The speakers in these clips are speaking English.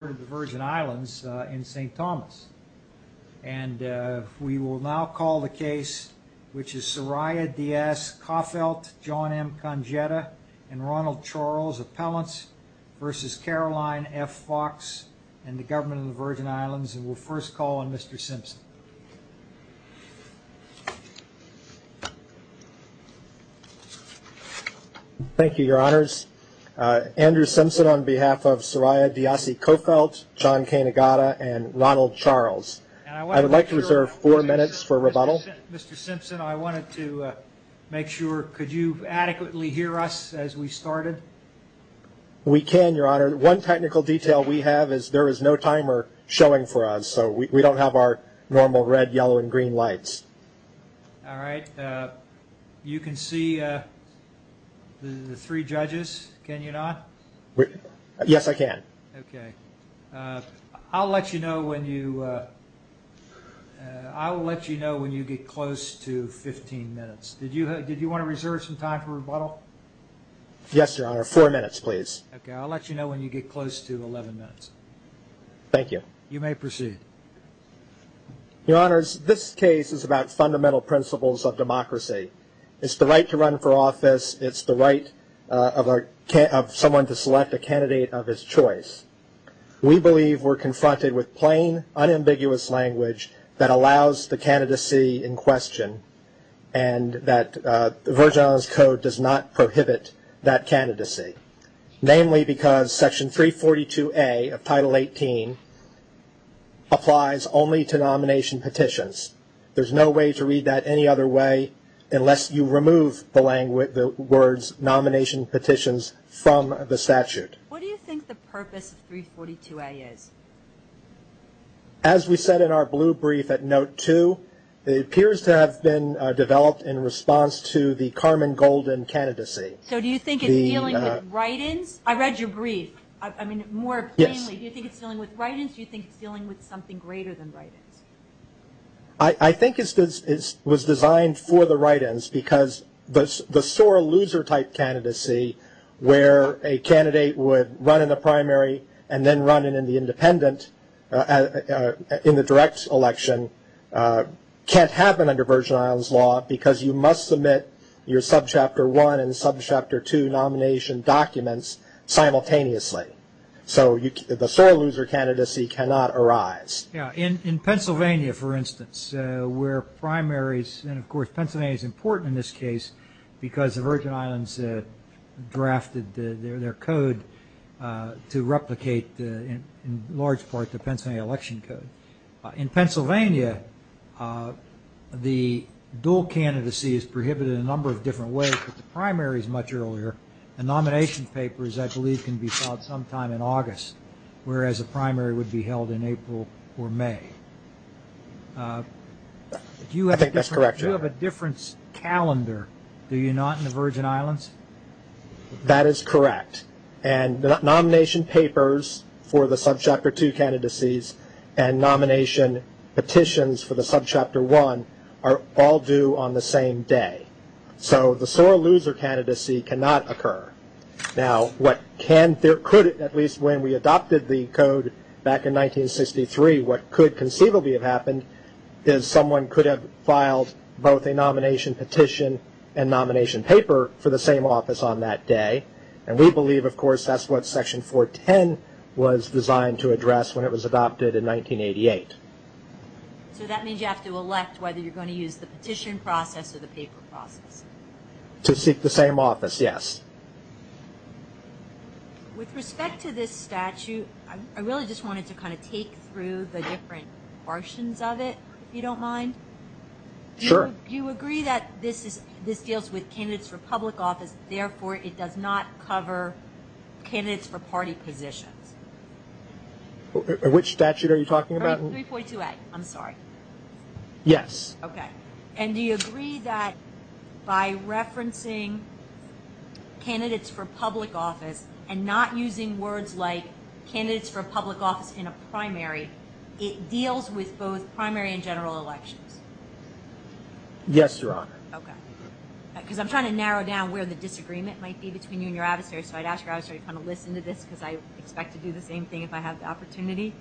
Virgin Islands in St. Thomas. And we will now call the case which is Soraya Dias, Coffelt, John M. Congetta, and Ronald Charles, Appellants v. Caroline F. Fawkes and the Government of the Virgin Islands. And we'll first call on Mr. Simpson. Thank you, Your Honors. Andrew Simpson on behalf of Soraya Dias, Coffelt, John M. Congetta, and Ronald Charles. I would like to reserve four minutes for rebuttal. Mr. Simpson, I wanted to make sure, could you adequately hear us as we started? We can, Your Honor. One technical detail we have is there is no timer showing for us, so we don't have our normal red, yellow, and green lights. All right. You can see the three judges, can you not? Yes, I can. Okay. I'll let you know when you get close to 15 minutes. Did you want to reserve some time for rebuttal? Yes, Your Honor. Four minutes, please. Okay. I'll let you know when you get close to 11 minutes. Thank you. You may proceed. Your Honors, this case is about fundamental principles of democracy. It's the right to run for office. It's the right of someone to select a candidate of his choice. We believe we're confronted with plain, unambiguous language that allows the candidacy in question and that the Virgin Islands Code does not prohibit that candidacy, namely because Section 342A of Title 18 applies only to nomination petitions. There's no way to read that any other way unless you remove the words nomination petitions from the statute. What do you think the purpose of 342A is? As we said in our blue brief at Note 2, it appears to have been developed in response to the Carmen Golden candidacy. So do you think it's dealing with write-ins? I read your brief. I mean, more plainly, do you think it's dealing with write-ins or do you think it's dealing with something greater than write-ins? I think it was designed for the write-ins because the sore loser type candidacy where a candidate would run in the primary and then run in the independent in the direct election can't happen under Virgin Islands law because you must submit your sub-chapter one and sub-chapter two nomination documents simultaneously. So the sore loser candidacy cannot arise. In Pennsylvania, for instance, where primaries, and of course Pennsylvania is important in this case because the Virgin Islands drafted their code to replicate in large part the Virginia, the dual candidacy is prohibited in a number of different ways, but the primary is much earlier and nomination papers, I believe, can be filed sometime in August, whereas a primary would be held in April or May. Do you have a different calendar, do you not in the Virgin Islands? That is correct. And nomination papers for the sub-chapter two candidacies and nomination petitions for the sub-chapter one are all due on the same day. So the sore loser candidacy cannot occur. Now what can, there could, at least when we adopted the code back in 1963, what could conceivably have happened is someone could have filed both a nomination petition and nomination paper for the same office on that day. And we believe, of course, that's what section 410 was designed to address when it was adopted in 1988. So that means you have to elect whether you're going to use the petition process or the paper process? To seek the same office, yes. With respect to this statute, I really just wanted to kind of take through the different portions of it, if you don't mind. Sure. You agree that this deals with candidates for public office, therefore it does not cover candidates for party positions? Which statute are you talking about? 3.2a, I'm sorry. Yes. Okay. And do you agree that by referencing candidates for public office and not using words like candidates for public office in a primary, it deals with both primary and general elections? Yes, Your Honor. Okay. Because I'm trying to narrow down where the disagreement might be between you and Gravesberry, so I'd ask Gravesberry to kind of listen to this because I expect to do the same thing if I have the opportunity.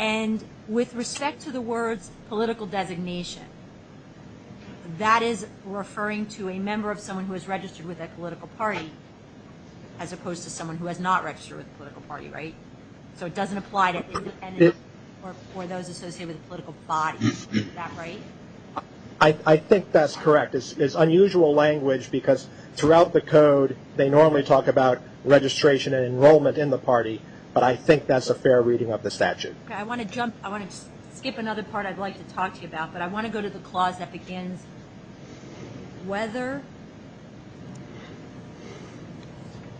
And with respect to the words political designation, that is referring to a member of someone who is registered with a political party as opposed to someone who has not registered with a political party, right? So it doesn't apply to independents or those associated with political bodies. Is that right? I think that's correct. It's unusual language because throughout the code, they normally talk about registration and enrollment in the party, but I think that's a fair reading of the statute. Okay. I want to skip another part I'd like to talk to you about, but I want to go to the clause that begins whether.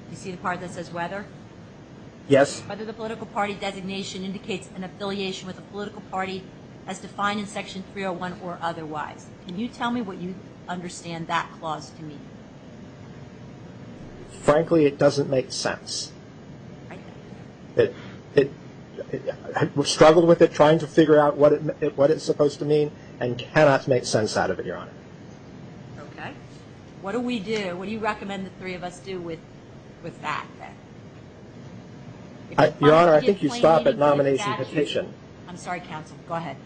Do you see the part that says whether? Yes. Whether the political party designation indicates an affiliation with a political party as well or otherwise. Can you tell me what you understand that clause to mean? Frankly, it doesn't make sense. I've struggled with it trying to figure out what it's supposed to mean and cannot make sense out of it, Your Honor. Okay. What do we do? What do you recommend the three of us do with that? Your Honor, I think you stop at nomination petition. I'm sorry, counsel. Go ahead.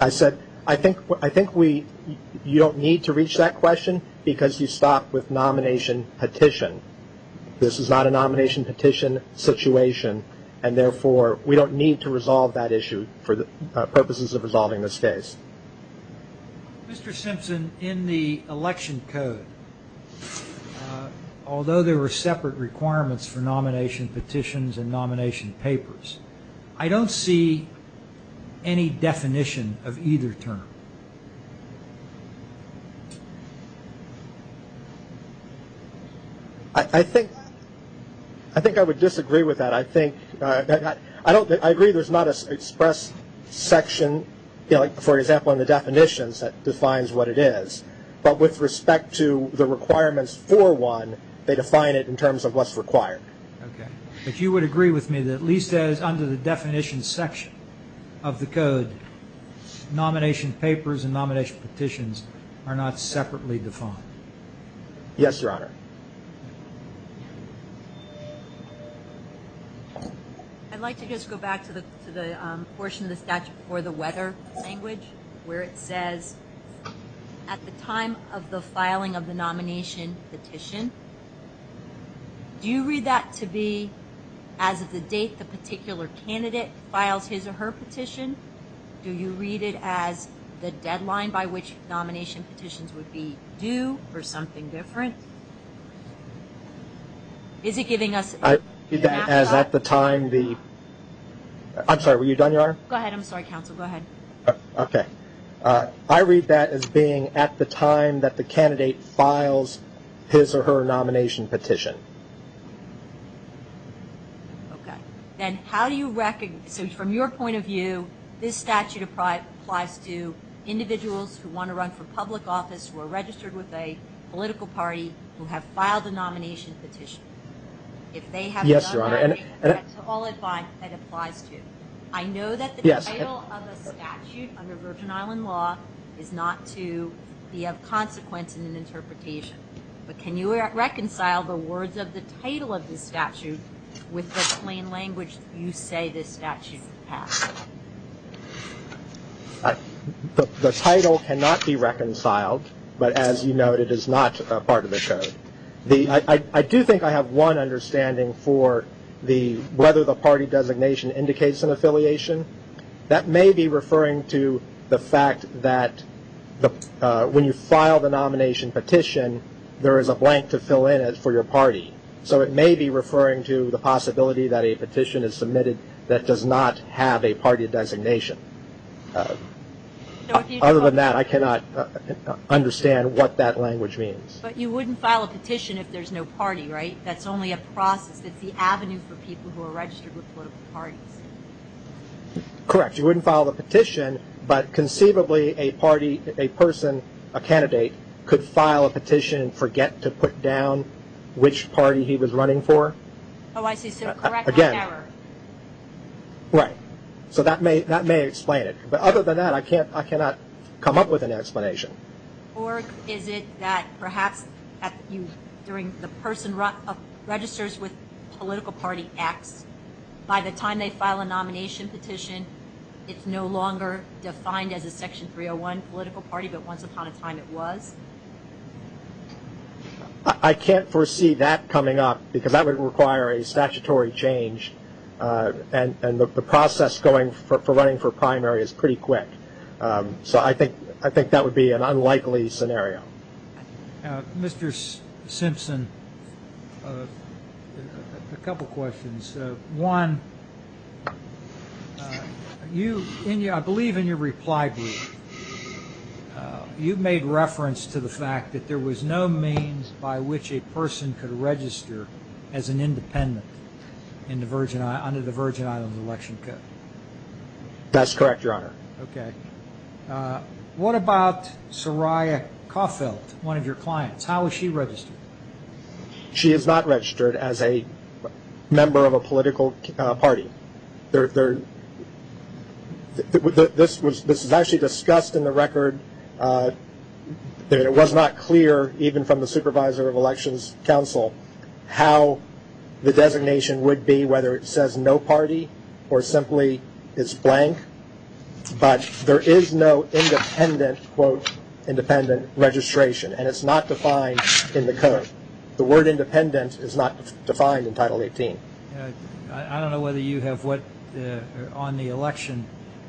I said I think you don't need to reach that question because you stopped with nomination petition. This is not a nomination petition situation, and therefore, we don't need to resolve that issue for the purposes of resolving this case. Mr. Simpson, in the election code, although there were separate requirements for nomination I don't see any definition of either term. I think I would disagree with that. I agree there's not an express section, for example, in the definitions that defines what it is, but with respect to the requirements for one, they define it in terms of what's required. Okay. But you would agree with me that at least as under the definition section of the code, nomination papers and nomination petitions are not separately defined? Yes, Your Honor. I'd like to just go back to the portion of the statute for the weather language where it says at the time of the filing of the nomination petition, do you read that to be as of the date the particular candidate files his or her petition? Do you read it as the deadline by which nomination petitions would be due for something different? Is it giving us a snapshot? I'm sorry, were you done, Your Honor? Go ahead. I'm sorry, counsel. Go ahead. Okay. I read that as being at the time that the candidate files his or her nomination petition. Okay. Then how do you recognize, so from your point of view, this statute applies to individuals who want to run for public office, who are registered with a political party, who have filed a nomination petition? Yes, Your Honor. To all advice, it applies to. I know that the title of a statute under Virgin Island law is not to be of consequence in an interpretation, but can you reconcile the words of the title of this statute with the plain language you say this statute has? The title cannot be reconciled, but as you noted, it is not a part of the code. I do think I have one understanding for whether the party designation indicates an affiliation. That may be referring to the fact that when you file the nomination petition, there is a blank to fill in for your party. So it may be referring to the possibility that a petition is submitted that does not have a party designation. Other than that, I cannot understand what that language means. But you wouldn't file a petition if there's no party, right? That's only a process. That's the avenue for people who are registered with political parties. Correct. You wouldn't file the petition, but conceivably a party, a person, a candidate could file a petition and forget to put down which party he was running for. Oh, I see. So correct like error. Right. So that may explain it. But other than that, I cannot come up with an explanation. Or is it that perhaps during the person registers with political party X, by the time they file a nomination petition, it's no longer defined as a Section 301 political party but once upon a time it was? I can't foresee that coming up because that would require a statutory change, and the process for running for primary is pretty quick. So I think that would be an unlikely scenario. Mr. Simpson, a couple questions. One, I believe in your reply brief, you made reference to the fact that there was no means by which a person could register as an independent under the Virgin Islands Election Code. That's correct, Your Honor. Okay. What about Soraya Caulfield, one of your clients? How is she registered? She is not registered as a member of a political party. This was actually discussed in the record, and it was not clear even from the Supervisor of Elections Council how the designation would be, whether it says no party or simply it's blank. But there is no independent, quote, independent registration, and it's not defined in the code. The word independent is not defined in Title 18. I don't know whether you have what on the election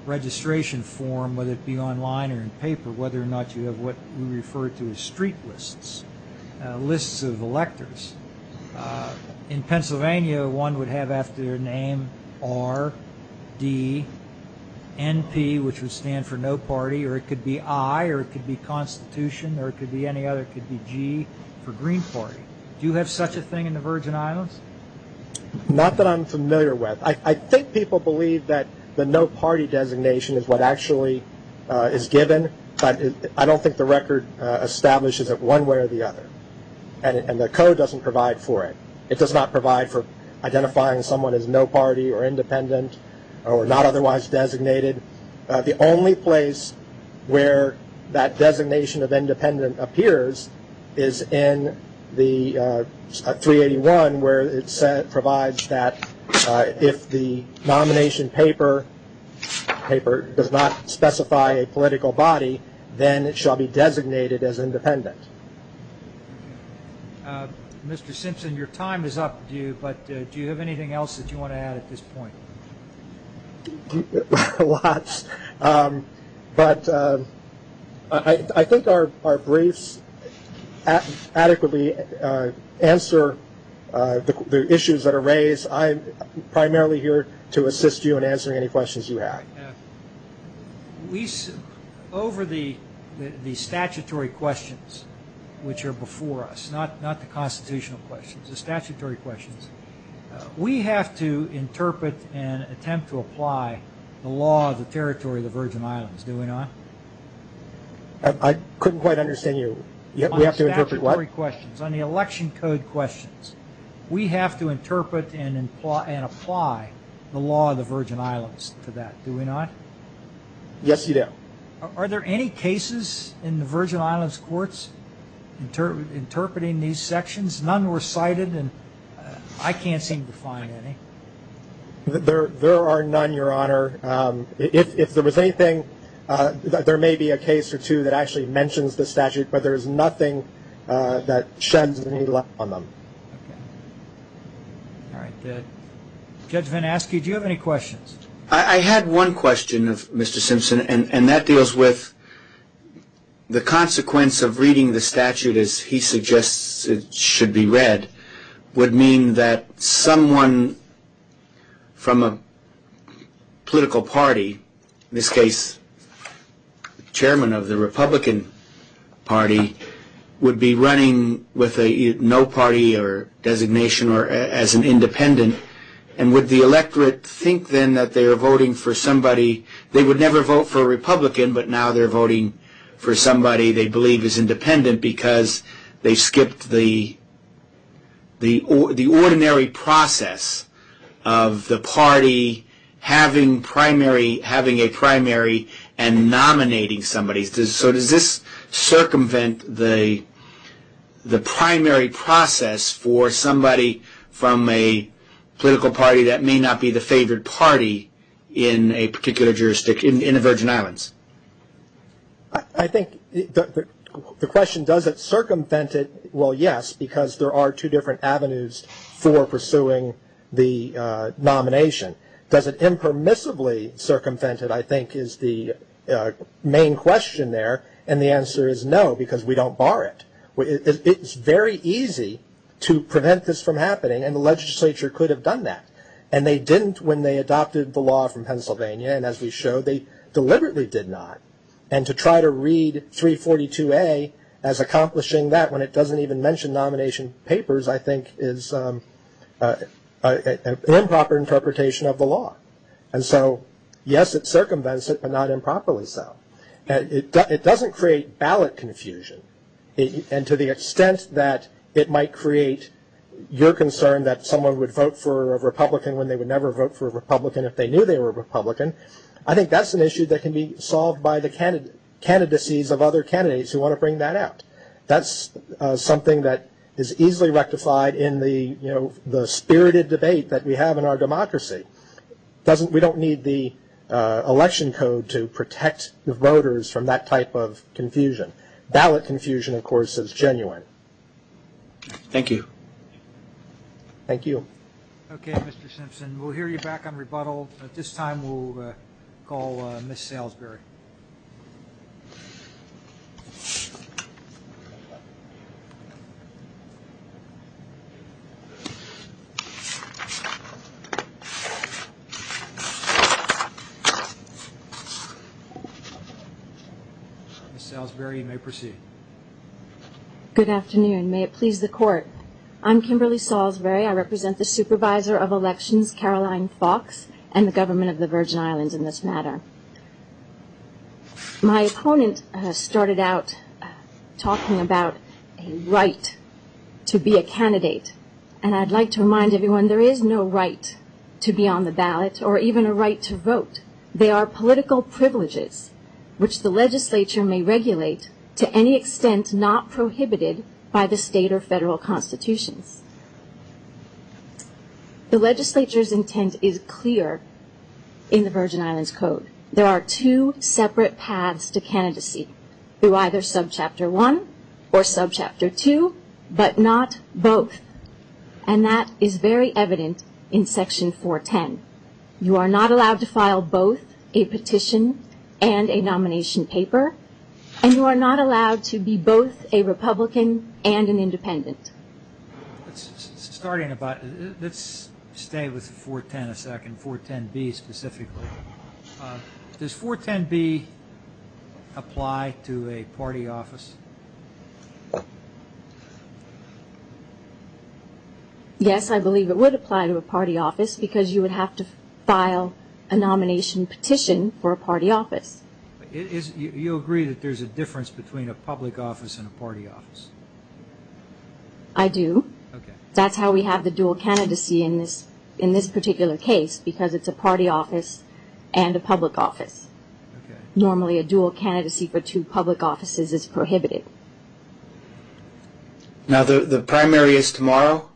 registration form, whether it be online or in paper, whether or not you have what we refer to as street lists, lists of electors. In Pennsylvania, one would have after their name R-D-N-P, which would stand for no party, or it could be I, or it could be Constitution, or it could be any other. It could be G for Green Party. Do you have such a thing in the Virgin Islands? Not that I'm familiar with. I think people believe that the no party designation is what actually is given, but I don't think the record establishes it one way or the other, and the code doesn't provide for it. It does not provide for identifying someone as no party or independent or not otherwise designated. The only place where that designation of independent appears is in the 381, where it provides that if the nomination paper does not specify a political body, then it shall be designated as independent. Mr. Simpson, your time is up. Do you have anything else that you want to add at this point? Lots. But I think our briefs adequately answer the issues that are raised. I'm primarily here to assist you in answering any questions you have. Over the statutory questions, which are before us, not the constitutional questions, the statutory questions, we have to interpret and attempt to apply the law of the territory of the Virgin Islands, do we not? I couldn't quite understand you. We have to interpret what? On the election code questions, we have to interpret and apply the law of the Virgin Islands to that, do we not? Yes, you do. Are there any cases in the Virgin Islands courts interpreting these sections? None were cited, and I can't seem to find any. There are none, Your Honor. If there was anything, there may be a case or two that actually mentions the statute, but there is nothing that sheds any light on them. All right. Judge VanAske, do you have any questions? I had one question, Mr. Simpson, and that deals with the consequence of reading the statute as he suggests it should be read would mean that someone from a political party, in this case, the chairman of the Republican Party, would be running with no party or designation or as an independent, and would the electorate think then that they are voting for somebody they would never vote for a Republican, but now they're voting for somebody they believe is independent because they skipped the ordinary process of the party having a primary and nominating somebody. So does this circumvent the primary process for somebody from a political party that may not be the favored party in a particular jurisdiction in the Virgin Islands? I think the question, does it circumvent it, well, yes, because there are two different avenues for pursuing the nomination. Does it impermissibly circumvent it, I think, is the main question there, and the answer is no because we don't bar it. It's very easy to prevent this from happening, and the legislature could have done that. And they didn't when they adopted the law from Pennsylvania, and as we showed they deliberately did not. And to try to read 342A as accomplishing that when it doesn't even mention nomination papers, I think is an improper interpretation of the law. And so, yes, it circumvents it, but not improperly so. It doesn't create ballot confusion, and to the extent that it might create your concern that someone would vote for a Republican when they would never vote for a Republican if they knew they were a Republican, I think that's an issue that can be solved by the candidacies of other candidates who want to bring that out. That's something that is easily rectified in the spirited debate that we have in our democracy. We don't need the election code to protect the voters from that type of confusion. Ballot confusion, of course, is genuine. Thank you. Thank you. Okay, Mr. Simpson, we'll hear you back on rebuttal. At this time we'll call Ms. Salisbury. Ms. Salisbury, you may proceed. Good afternoon. May it please the Court. I'm Kimberly Salisbury. I represent the supervisor of elections, Caroline Fox, and the government of the Virgin Islands in this matter. My opponent started out talking about a right to be a candidate, and I'd like to remind everyone there is no right to be on the ballot or even a right to vote. They are political privileges which the legislature may regulate to any extent not prohibited by the state or federal constitutions. The legislature's intent is clear in the Virgin Islands Code. There are two separate paths to candidacy, through either subchapter one or subchapter two, but not both, and that is very evident in section 410. You are not allowed to file both a petition and a nomination paper, and you are not allowed to be both a Republican and an independent. Let's stay with 410 a second, 410B specifically. Does 410B apply to a party office? Yes, I believe it would apply to a party office because you would have to file a nomination petition for a party office. You agree that there's a difference between a public office and a party office? I do. That's how we have the dual candidacy in this particular case because it's a party office and a public office. Normally a dual candidacy for two public offices is prohibited, Now the primary is tomorrow?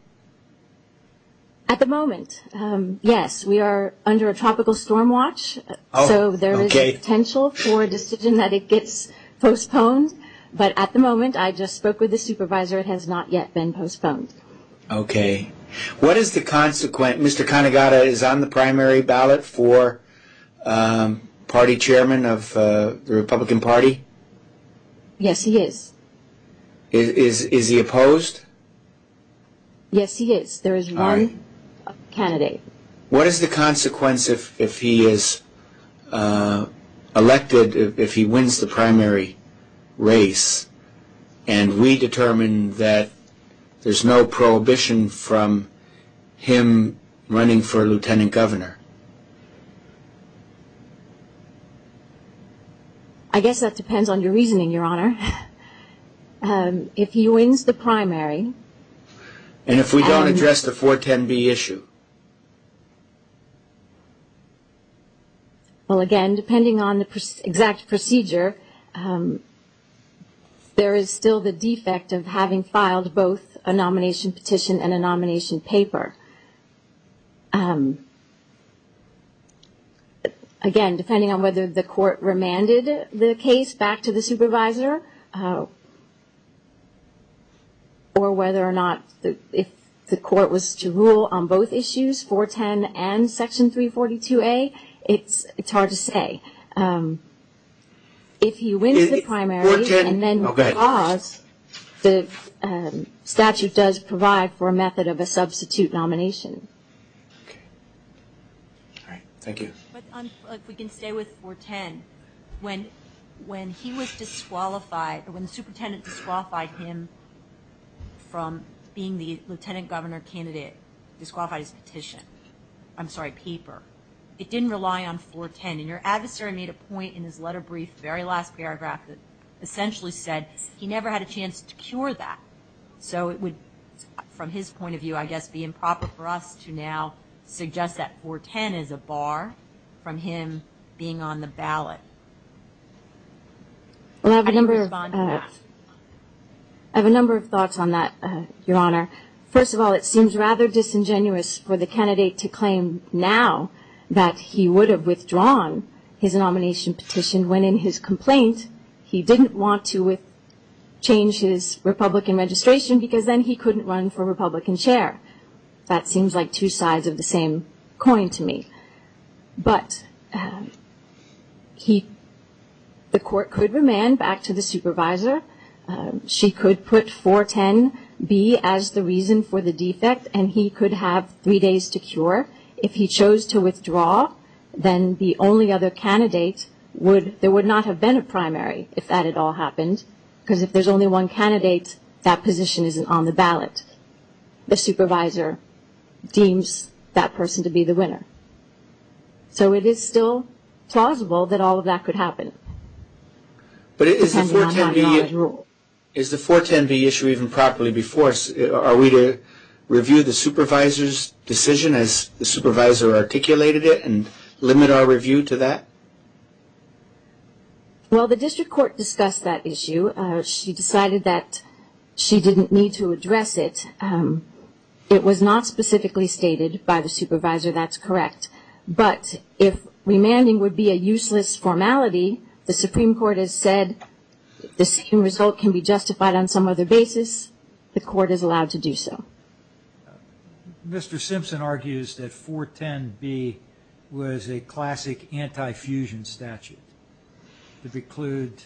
At the moment, yes. We are under a tropical storm watch, so there is a potential for a decision that it gets postponed, but at the moment I just spoke with the supervisor. It has not yet been postponed. Okay. What is the consequent? Mr. Canegada is on the primary ballot for party chairman of the Republican Party? Yes, he is. Is he opposed? Yes, he is. There is one candidate. What is the consequence if he is elected, if he wins the primary race, and we determine that there's no prohibition from him running for lieutenant governor? I guess that depends on your reasoning, Your Honor. If he wins the primary And if we don't address the 410B issue? Well, again, depending on the exact procedure, there is still the defect of having filed both a nomination petition and a nomination paper. Again, depending on whether the court remanded the case back to the supervisor or whether or not if the court was to rule on both issues, 410 and Section 342A, it's hard to say. If he wins the primary and then withdraws, the statute does provide for a method of a substitute nomination. Okay. All right. Thank you. If we can stay with 410, when he was disqualified, when the superintendent disqualified him from being the lieutenant governor candidate, disqualified his petition, I'm sorry, paper, it didn't rely on 410. And your adversary made a point in his letter brief, very last paragraph, that essentially said he never had a chance to cure that. So it would, from his point of view, I guess, be improper for us to now suggest that 410 is a bar from him being on the ballot. I have a number of thoughts on that, Your Honor. First of all, it seems rather disingenuous for the candidate to claim now that he would have withdrawn his nomination petition when, in his complaint, he didn't want to change his Republican registration because then he couldn't run for Republican chair. That seems like two sides of the same coin to me. But the court could remand back to the supervisor. She could put 410B as the reason for the defect, and he could have three days to cure. If he chose to withdraw, then the only other candidate would, there would not have been a primary if that had all happened, because if there's only one candidate, that position isn't on the ballot. The supervisor deems that person to be the winner. So it is still plausible that all of that could happen. But is the 410B issue even properly before us? Are we to review the supervisor's decision as the supervisor articulated it and limit our review to that? Well, the district court discussed that issue. She decided that she didn't need to address it. It was not specifically stated by the supervisor, that's correct. But if remanding would be a useless formality, the Supreme Court has said the same result can be justified on some other basis. The court is allowed to do so. Mr. Simpson argues that 410B was a classic anti-fusion statute that precludes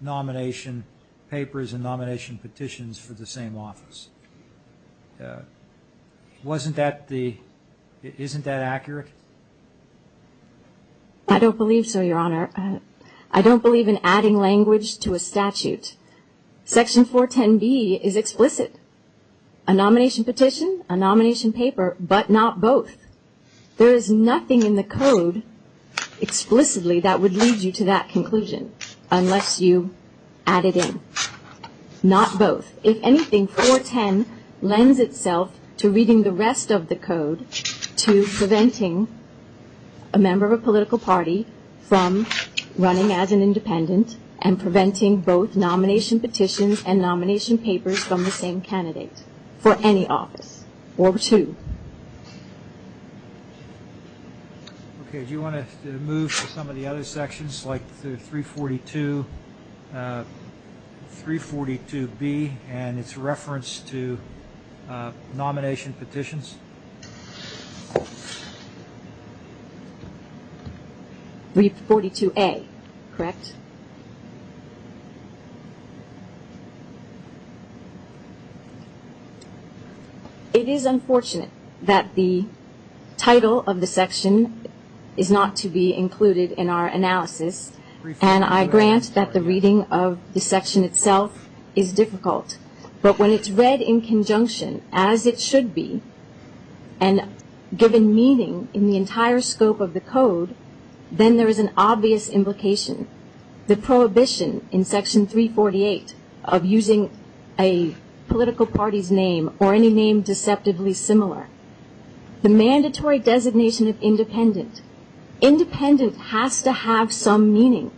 nomination papers and nomination petitions for the same office. Isn't that accurate? I don't believe so, Your Honor. I don't believe in adding language to a statute. Section 410B is explicit. A nomination petition, a nomination paper, but not both. There is nothing in the code explicitly that would lead you to that conclusion unless you add it in. Not both. If anything, 410 lends itself to reading the rest of the code to preventing a member of a political party from running as an independent and preventing both nomination petitions and nomination papers from the same candidate for any office or two. Do you want to move to some of the other sections like 342B and its reference to nomination petitions? 342A, correct? It is unfortunate that the title of the section is not to be included in our analysis, and I grant that the reading of the section itself is difficult. But when it's read in conjunction, as it should be, and given meaning in the entire scope of the code, then there is an obvious implication. The prohibition in Section 348 of using a political party's name or any name deceptively similar. The mandatory designation of independent. Independent has to have some meaning.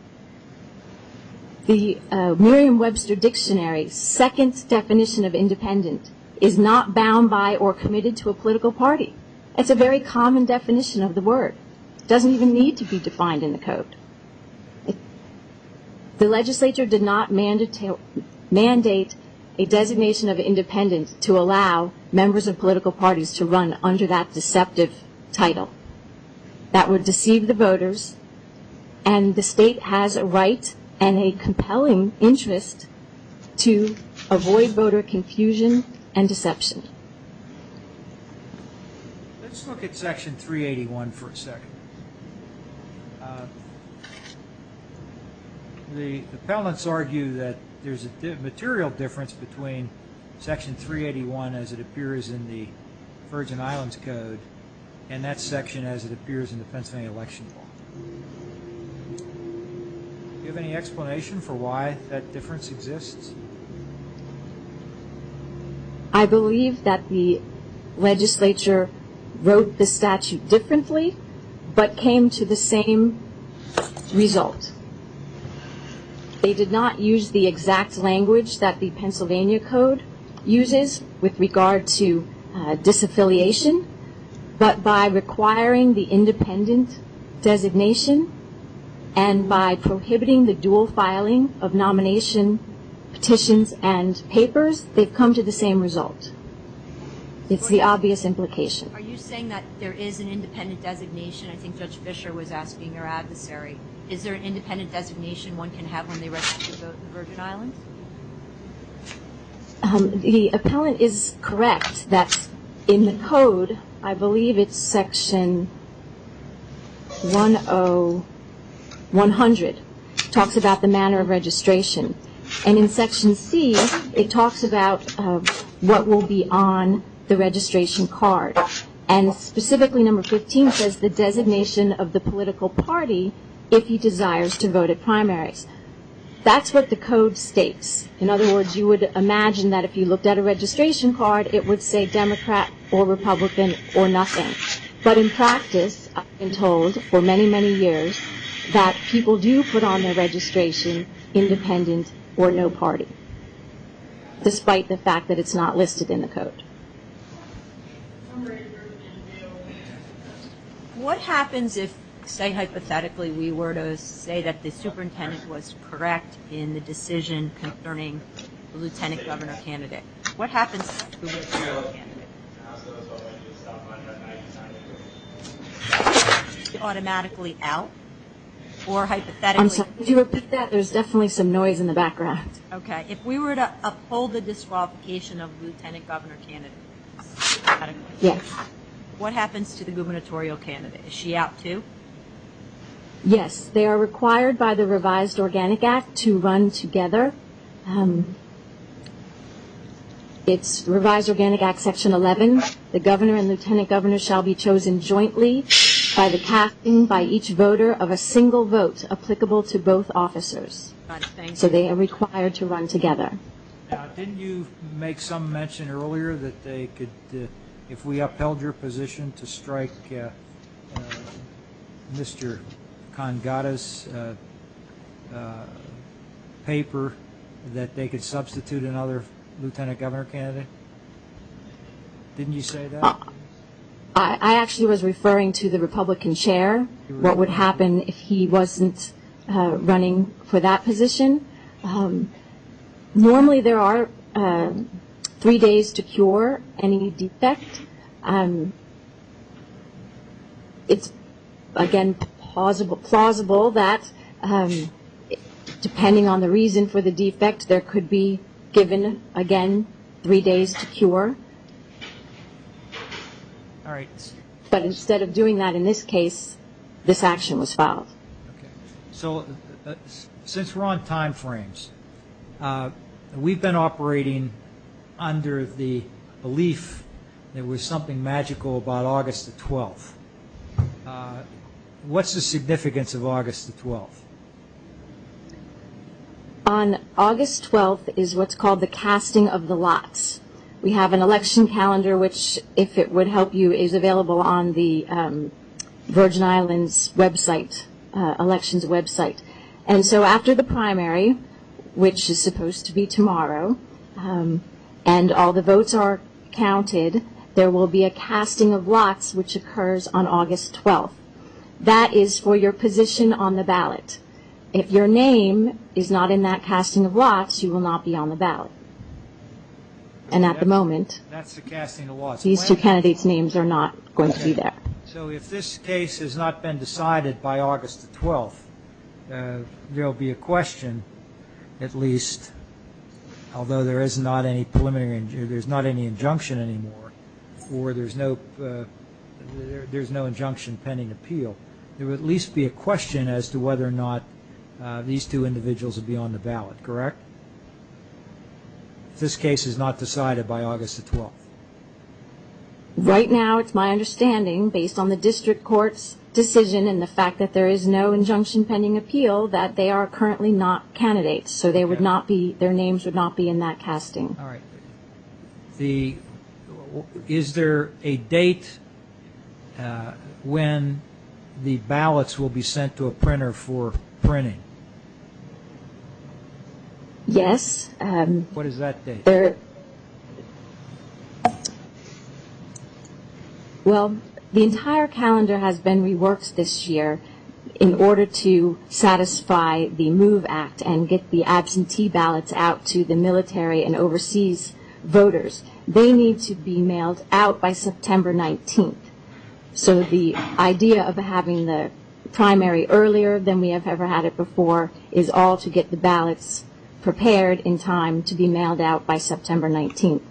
The Merriam-Webster Dictionary's second definition of independent is not bound by or committed to a political party. It's a very common definition of the word. It doesn't even need to be defined in the code. The legislature did not mandate a designation of independent to allow members of political parties to run under that deceptive title. That would deceive the voters, and the state has a right and a compelling interest to avoid voter confusion and deception. Let's look at Section 381 for a second. The appellants argue that there's a material difference between Section 381 as it appears in the Virgin Islands Code and that section as it appears in the Pennsylvania Election Law. Do you have any explanation for why that difference exists? I believe that the legislature wrote the statute differently, but came to the same result. They did not use the exact language that the Pennsylvania Code uses with regard to disaffiliation, but by requiring the independent designation and by prohibiting the dual filing of nomination, petitions, and papers, they've come to the same result. It's the obvious implication. Are you saying that there is an independent designation? I think Judge Fischer was asking your adversary. Is there an independent designation one can have when they register to vote in the Virgin Islands? The appellant is correct that in the Code, I believe it's Section 100, talks about the manner of registration. And in Section C, it talks about what will be on the registration card. And specifically number 15 says the designation of the political party if he desires to vote at primaries. That's what the Code states. In other words, you would imagine that if you looked at a registration card, it would say Democrat or Republican or nothing. But in practice, I've been told for many, many years, that people do put on their registration independent or no party, What happens if, say, hypothetically, we were to say that the superintendent was correct in the decision concerning the lieutenant governor candidate? What happens to the lieutenant governor candidate? Is he automatically out? Or hypothetically? Could you repeat that? There's definitely some noise in the background. Okay. If we were to uphold the disqualification of lieutenant governor candidates, what happens to the gubernatorial candidate? Is she out too? Yes. They are required by the revised Organic Act to run together. It's revised Organic Act Section 11. The governor and lieutenant governor shall be chosen jointly by the casting by each voter of a single vote applicable to both officers. So they are required to run together. Now, didn't you make some mention earlier that they could, if we upheld your position to strike Mr. Congatta's paper, that they could substitute another lieutenant governor candidate? Didn't you say that? I actually was referring to the Republican chair, what would happen if he wasn't running for that position. Normally there are three days to cure any defect. It's, again, plausible that depending on the reason for the defect, there could be given, again, three days to cure. All right. But instead of doing that in this case, this action was filed. Okay. So since we're on time frames, we've been operating under the belief there was something magical about August the 12th. What's the significance of August the 12th? On August 12th is what's called the casting of the lots. We have an election calendar which, if it would help you, is available on the Virgin Islands website, elections website. And so after the primary, which is supposed to be tomorrow, and all the votes are counted, there will be a casting of lots which occurs on August 12th. That is for your position on the ballot. If your name is not in that casting of lots, you will not be on the ballot. And at the moment, these two candidates' names are not going to be there. So if this case has not been decided by August the 12th, there will be a question at least, although there is not any preliminary, there's not any injunction anymore, or there's no injunction pending appeal, there will at least be a question as to whether or not these two individuals will be on the ballot. Correct? If this case is not decided by August the 12th. Right now, it's my understanding, based on the district court's decision and the fact that there is no injunction pending appeal, that they are currently not candidates. So their names would not be in that casting. All right. Is there a date when the ballots will be sent to a printer for printing? Yes. What is that date? Well, the entire calendar has been reworked this year in order to satisfy the MOVE Act and get the absentee ballots out to the military and overseas voters. They need to be mailed out by September 19th. So the idea of having the primary earlier than we have ever had it before is all to get the ballots prepared in time to be mailed out by September 19th.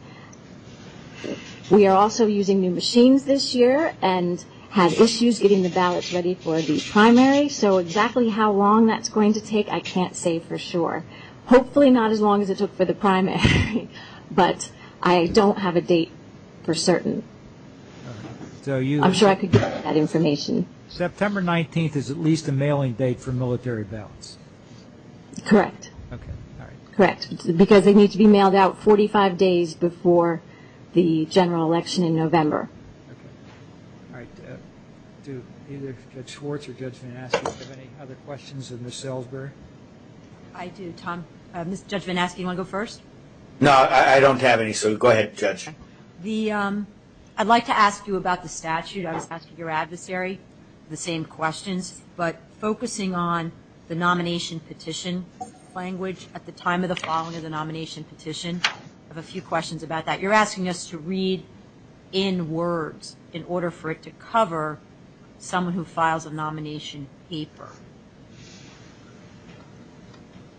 We are also using new machines this year and have issues getting the ballots ready for the primary. So exactly how long that's going to take, I can't say for sure. Hopefully not as long as it took for the primary, but I don't have a date for certain. I'm sure I could give you that information. September 19th is at least a mailing date for military ballots. Correct. Because they need to be mailed out 45 days before the general election in November. All right. Either Judge Schwartz or Judge Van Aschen, do you have any other questions of Ms. Selzberg? I do, Tom. Judge Van Aschen, do you want to go first? No, I don't have any, so go ahead, Judge. I'd like to ask you about the statute. I was asking your adversary the same questions, but focusing on the nomination petition language at the time of the following of the nomination petition, I have a few questions about that. You're asking us to read in words in order for it to cover someone who files a nomination paper.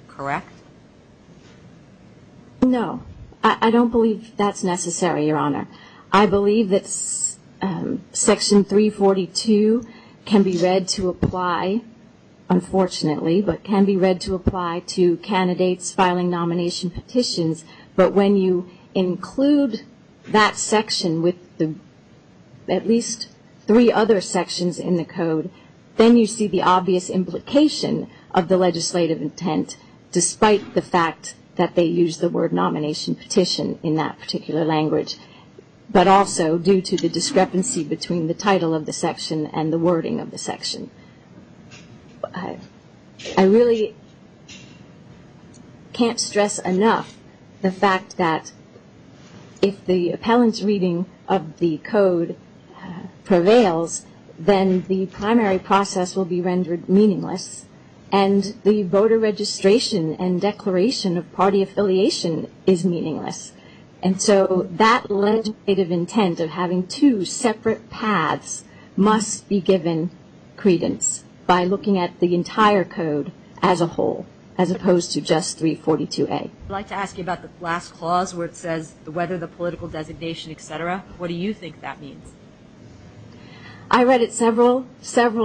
Correct? No. I don't believe that's necessary, Your Honor. I believe that Section 342 can be read to apply, unfortunately, but can be read to apply to candidates filing nomination petitions. But when you include that section with at least three other sections in the code, then you see the obvious implication of the legislative intent, despite the fact that they used the word nomination petition in that particular language, but also due to the discrepancy between the title of the section and the wording of the section. I really can't stress enough the fact that if the appellant's reading of the code prevails, then the primary process will be rendered meaningless, and the voter registration and declaration of party affiliation is meaningless. And so that legislative intent of having two separate paths must be given credence by looking at the entire code as a whole, as opposed to just 342A. I'd like to ask you about the last clause where it says whether the political designation, et cetera. What do you think that means? I read it several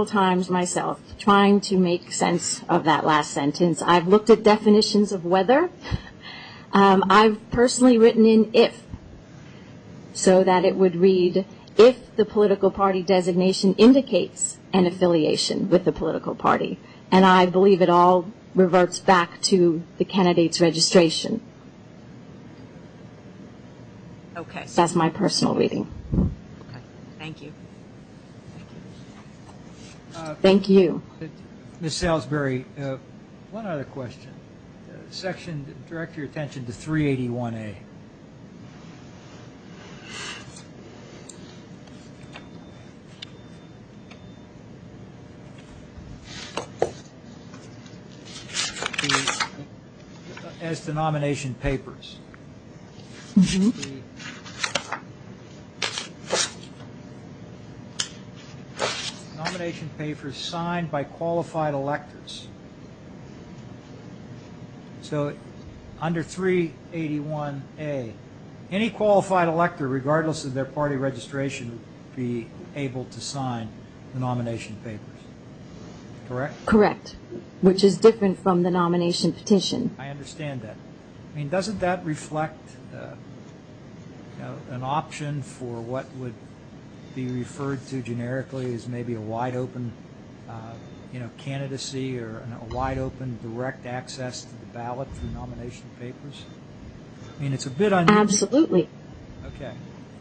times myself, trying to make sense of that last sentence. I've looked at definitions of whether. I've personally written in if, so that it would read, if the political party designation indicates an affiliation with the political party. And I believe it all reverts back to the candidate's registration. That's my personal reading. Thank you. Thank you. Ms. Salisbury, one other question. Section, direct your attention to 381A. As to nomination papers. The nomination papers signed by qualified electors. So under 381A, any qualified elector, regardless of their party registration, would be able to sign the nomination papers, correct? Correct, which is different from the nomination petition. I understand that. I mean, doesn't that reflect an option for what would be referred to generically as maybe a wide-open candidacy or a wide-open direct access to the ballot for nomination papers? I mean, it's a bit unusual. Absolutely. Okay.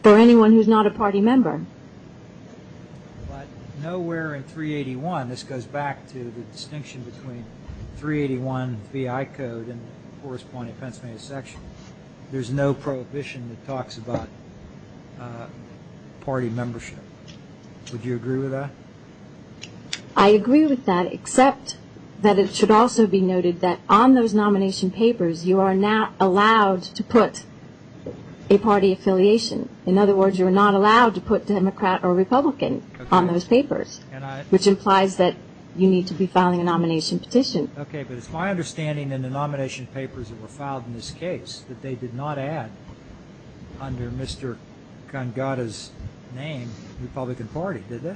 For anyone who's not a party member. But nowhere in 381, this goes back to the distinction between 381 VI code and the corresponding Pennsylvania section, there's no prohibition that talks about party membership. Would you agree with that? I agree with that, except that it should also be noted that on those nomination papers, you are not allowed to put a party affiliation. In other words, you are not allowed to put Democrat or Republican on those papers, which implies that you need to be filing a nomination petition. Okay, but it's my understanding in the nomination papers that were filed in this case that they did not add, under Mr. Gangada's name, Republican Party, did they?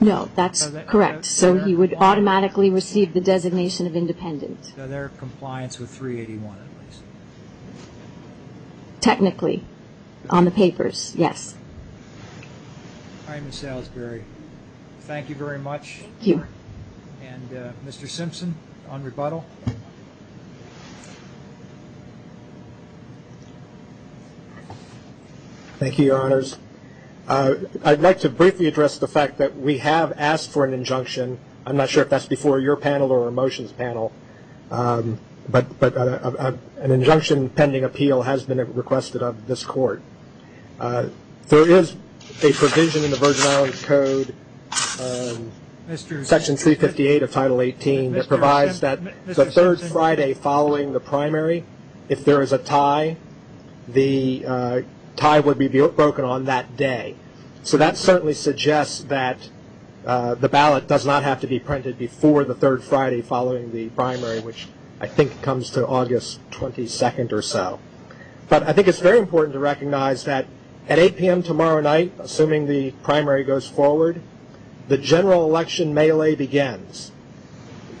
No, that's correct. So he would automatically receive the designation of independent. So they're in compliance with 381 at least? Technically, on the papers, yes. All right, Ms. Salisbury, thank you very much. Thank you. And Mr. Simpson, on rebuttal. Thank you, Your Honors. I'd like to briefly address the fact that we have asked for an injunction. I'm not sure if that's before your panel or a motions panel, but an injunction pending appeal has been requested of this court. There is a provision in the Virgin Islands Code, Section 358 of Title 18, that provides that the third Friday following the primary, if there is a tie, the tie would be broken on that day. So that certainly suggests that the ballot does not have to be printed before the third Friday following the primary, which I think comes to August 22nd or so. But I think it's very important to recognize that at 8 p.m. tomorrow night, assuming the primary goes forward, the general election melee begins.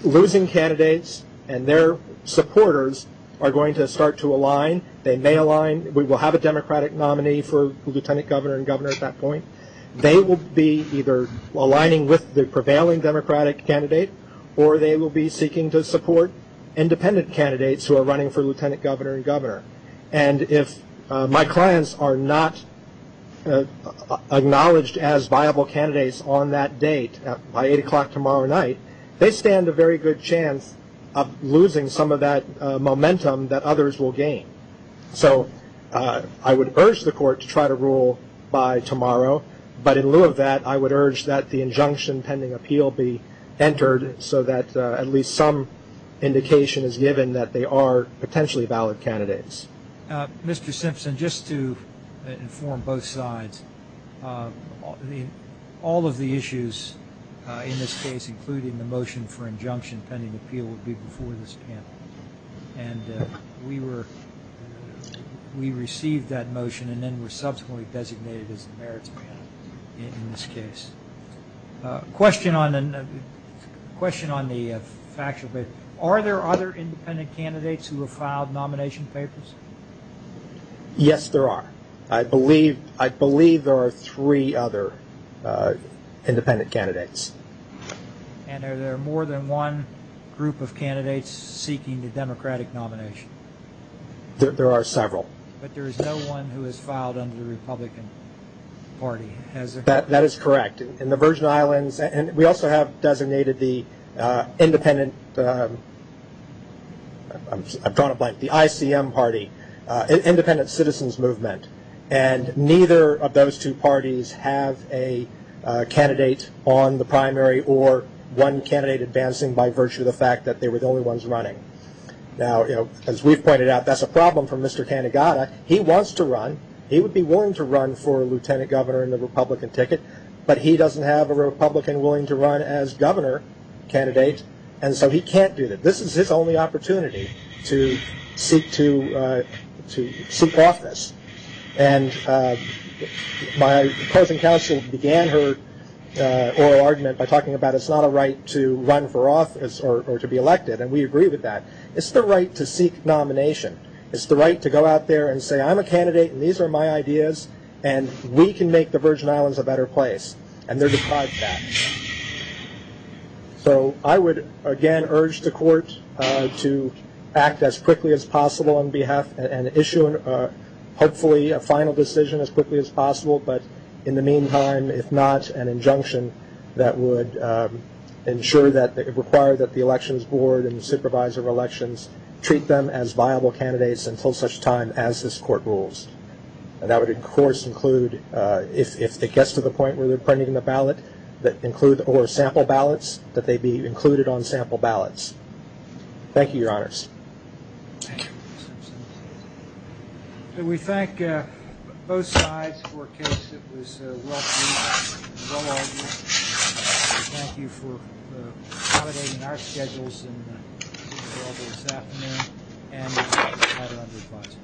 Losing candidates and their supporters are going to start to align. They may align. We will have a Democratic nominee for lieutenant governor and governor at that point. They will be either aligning with the prevailing Democratic candidate or they will be seeking to support independent candidates who are running for lieutenant governor and governor. And if my clients are not acknowledged as viable candidates on that date by 8 o'clock tomorrow night, they stand a very good chance of losing some of that momentum that others will gain. So I would urge the court to try to rule by tomorrow, but in lieu of that, I would urge that the injunction pending appeal be entered so that at least some indication is given that they are potentially valid candidates. Mr. Simpson, just to inform both sides, all of the issues in this case, including the motion for injunction pending appeal, would be before this panel. And we received that motion and then were subsequently designated as the merits panel in this case. Question on the factual basis. Are there other independent candidates who have filed nomination papers? Yes, there are. I believe there are three other independent candidates. And are there more than one group of candidates seeking the Democratic nomination? There are several. But there is no one who has filed under the Republican Party? That is correct. In the Virgin Islands, and we also have designated the independent, I've drawn a blank, the ICM party, independent citizens movement. And neither of those two parties have a candidate on the primary or one candidate advancing by virtue of the fact that they were the only ones running. Now, as we've pointed out, that's a problem for Mr. Tanigata. He wants to run. He would be willing to run for lieutenant governor in the Republican ticket. But he doesn't have a Republican willing to run as governor candidate, and so he can't do that. This is his only opportunity to seek office. And my opposing counsel began her oral argument by talking about it's not a right to run for office or to be elected, and we agree with that. It's the right to seek nomination. It's the right to go out there and say, I'm a candidate and these are my ideas, and we can make the Virgin Islands a better place. And they're deprived of that. So I would, again, urge the court to act as quickly as possible on behalf and issue hopefully a final decision as quickly as possible. But in the meantime, if not, an injunction that would ensure that, require that the elections board and the supervisor of elections treat them as viable candidates until such time as this court rules. And that would, of course, include if it gets to the point where they're printing the ballot, that include or sample ballots, that they be included on sample ballots. Thank you, Your Honors. We thank both sides for a case that was well-proven and well-argued. Thank you for accommodating our schedules and meeting with all of us this afternoon. And we thank you for your time.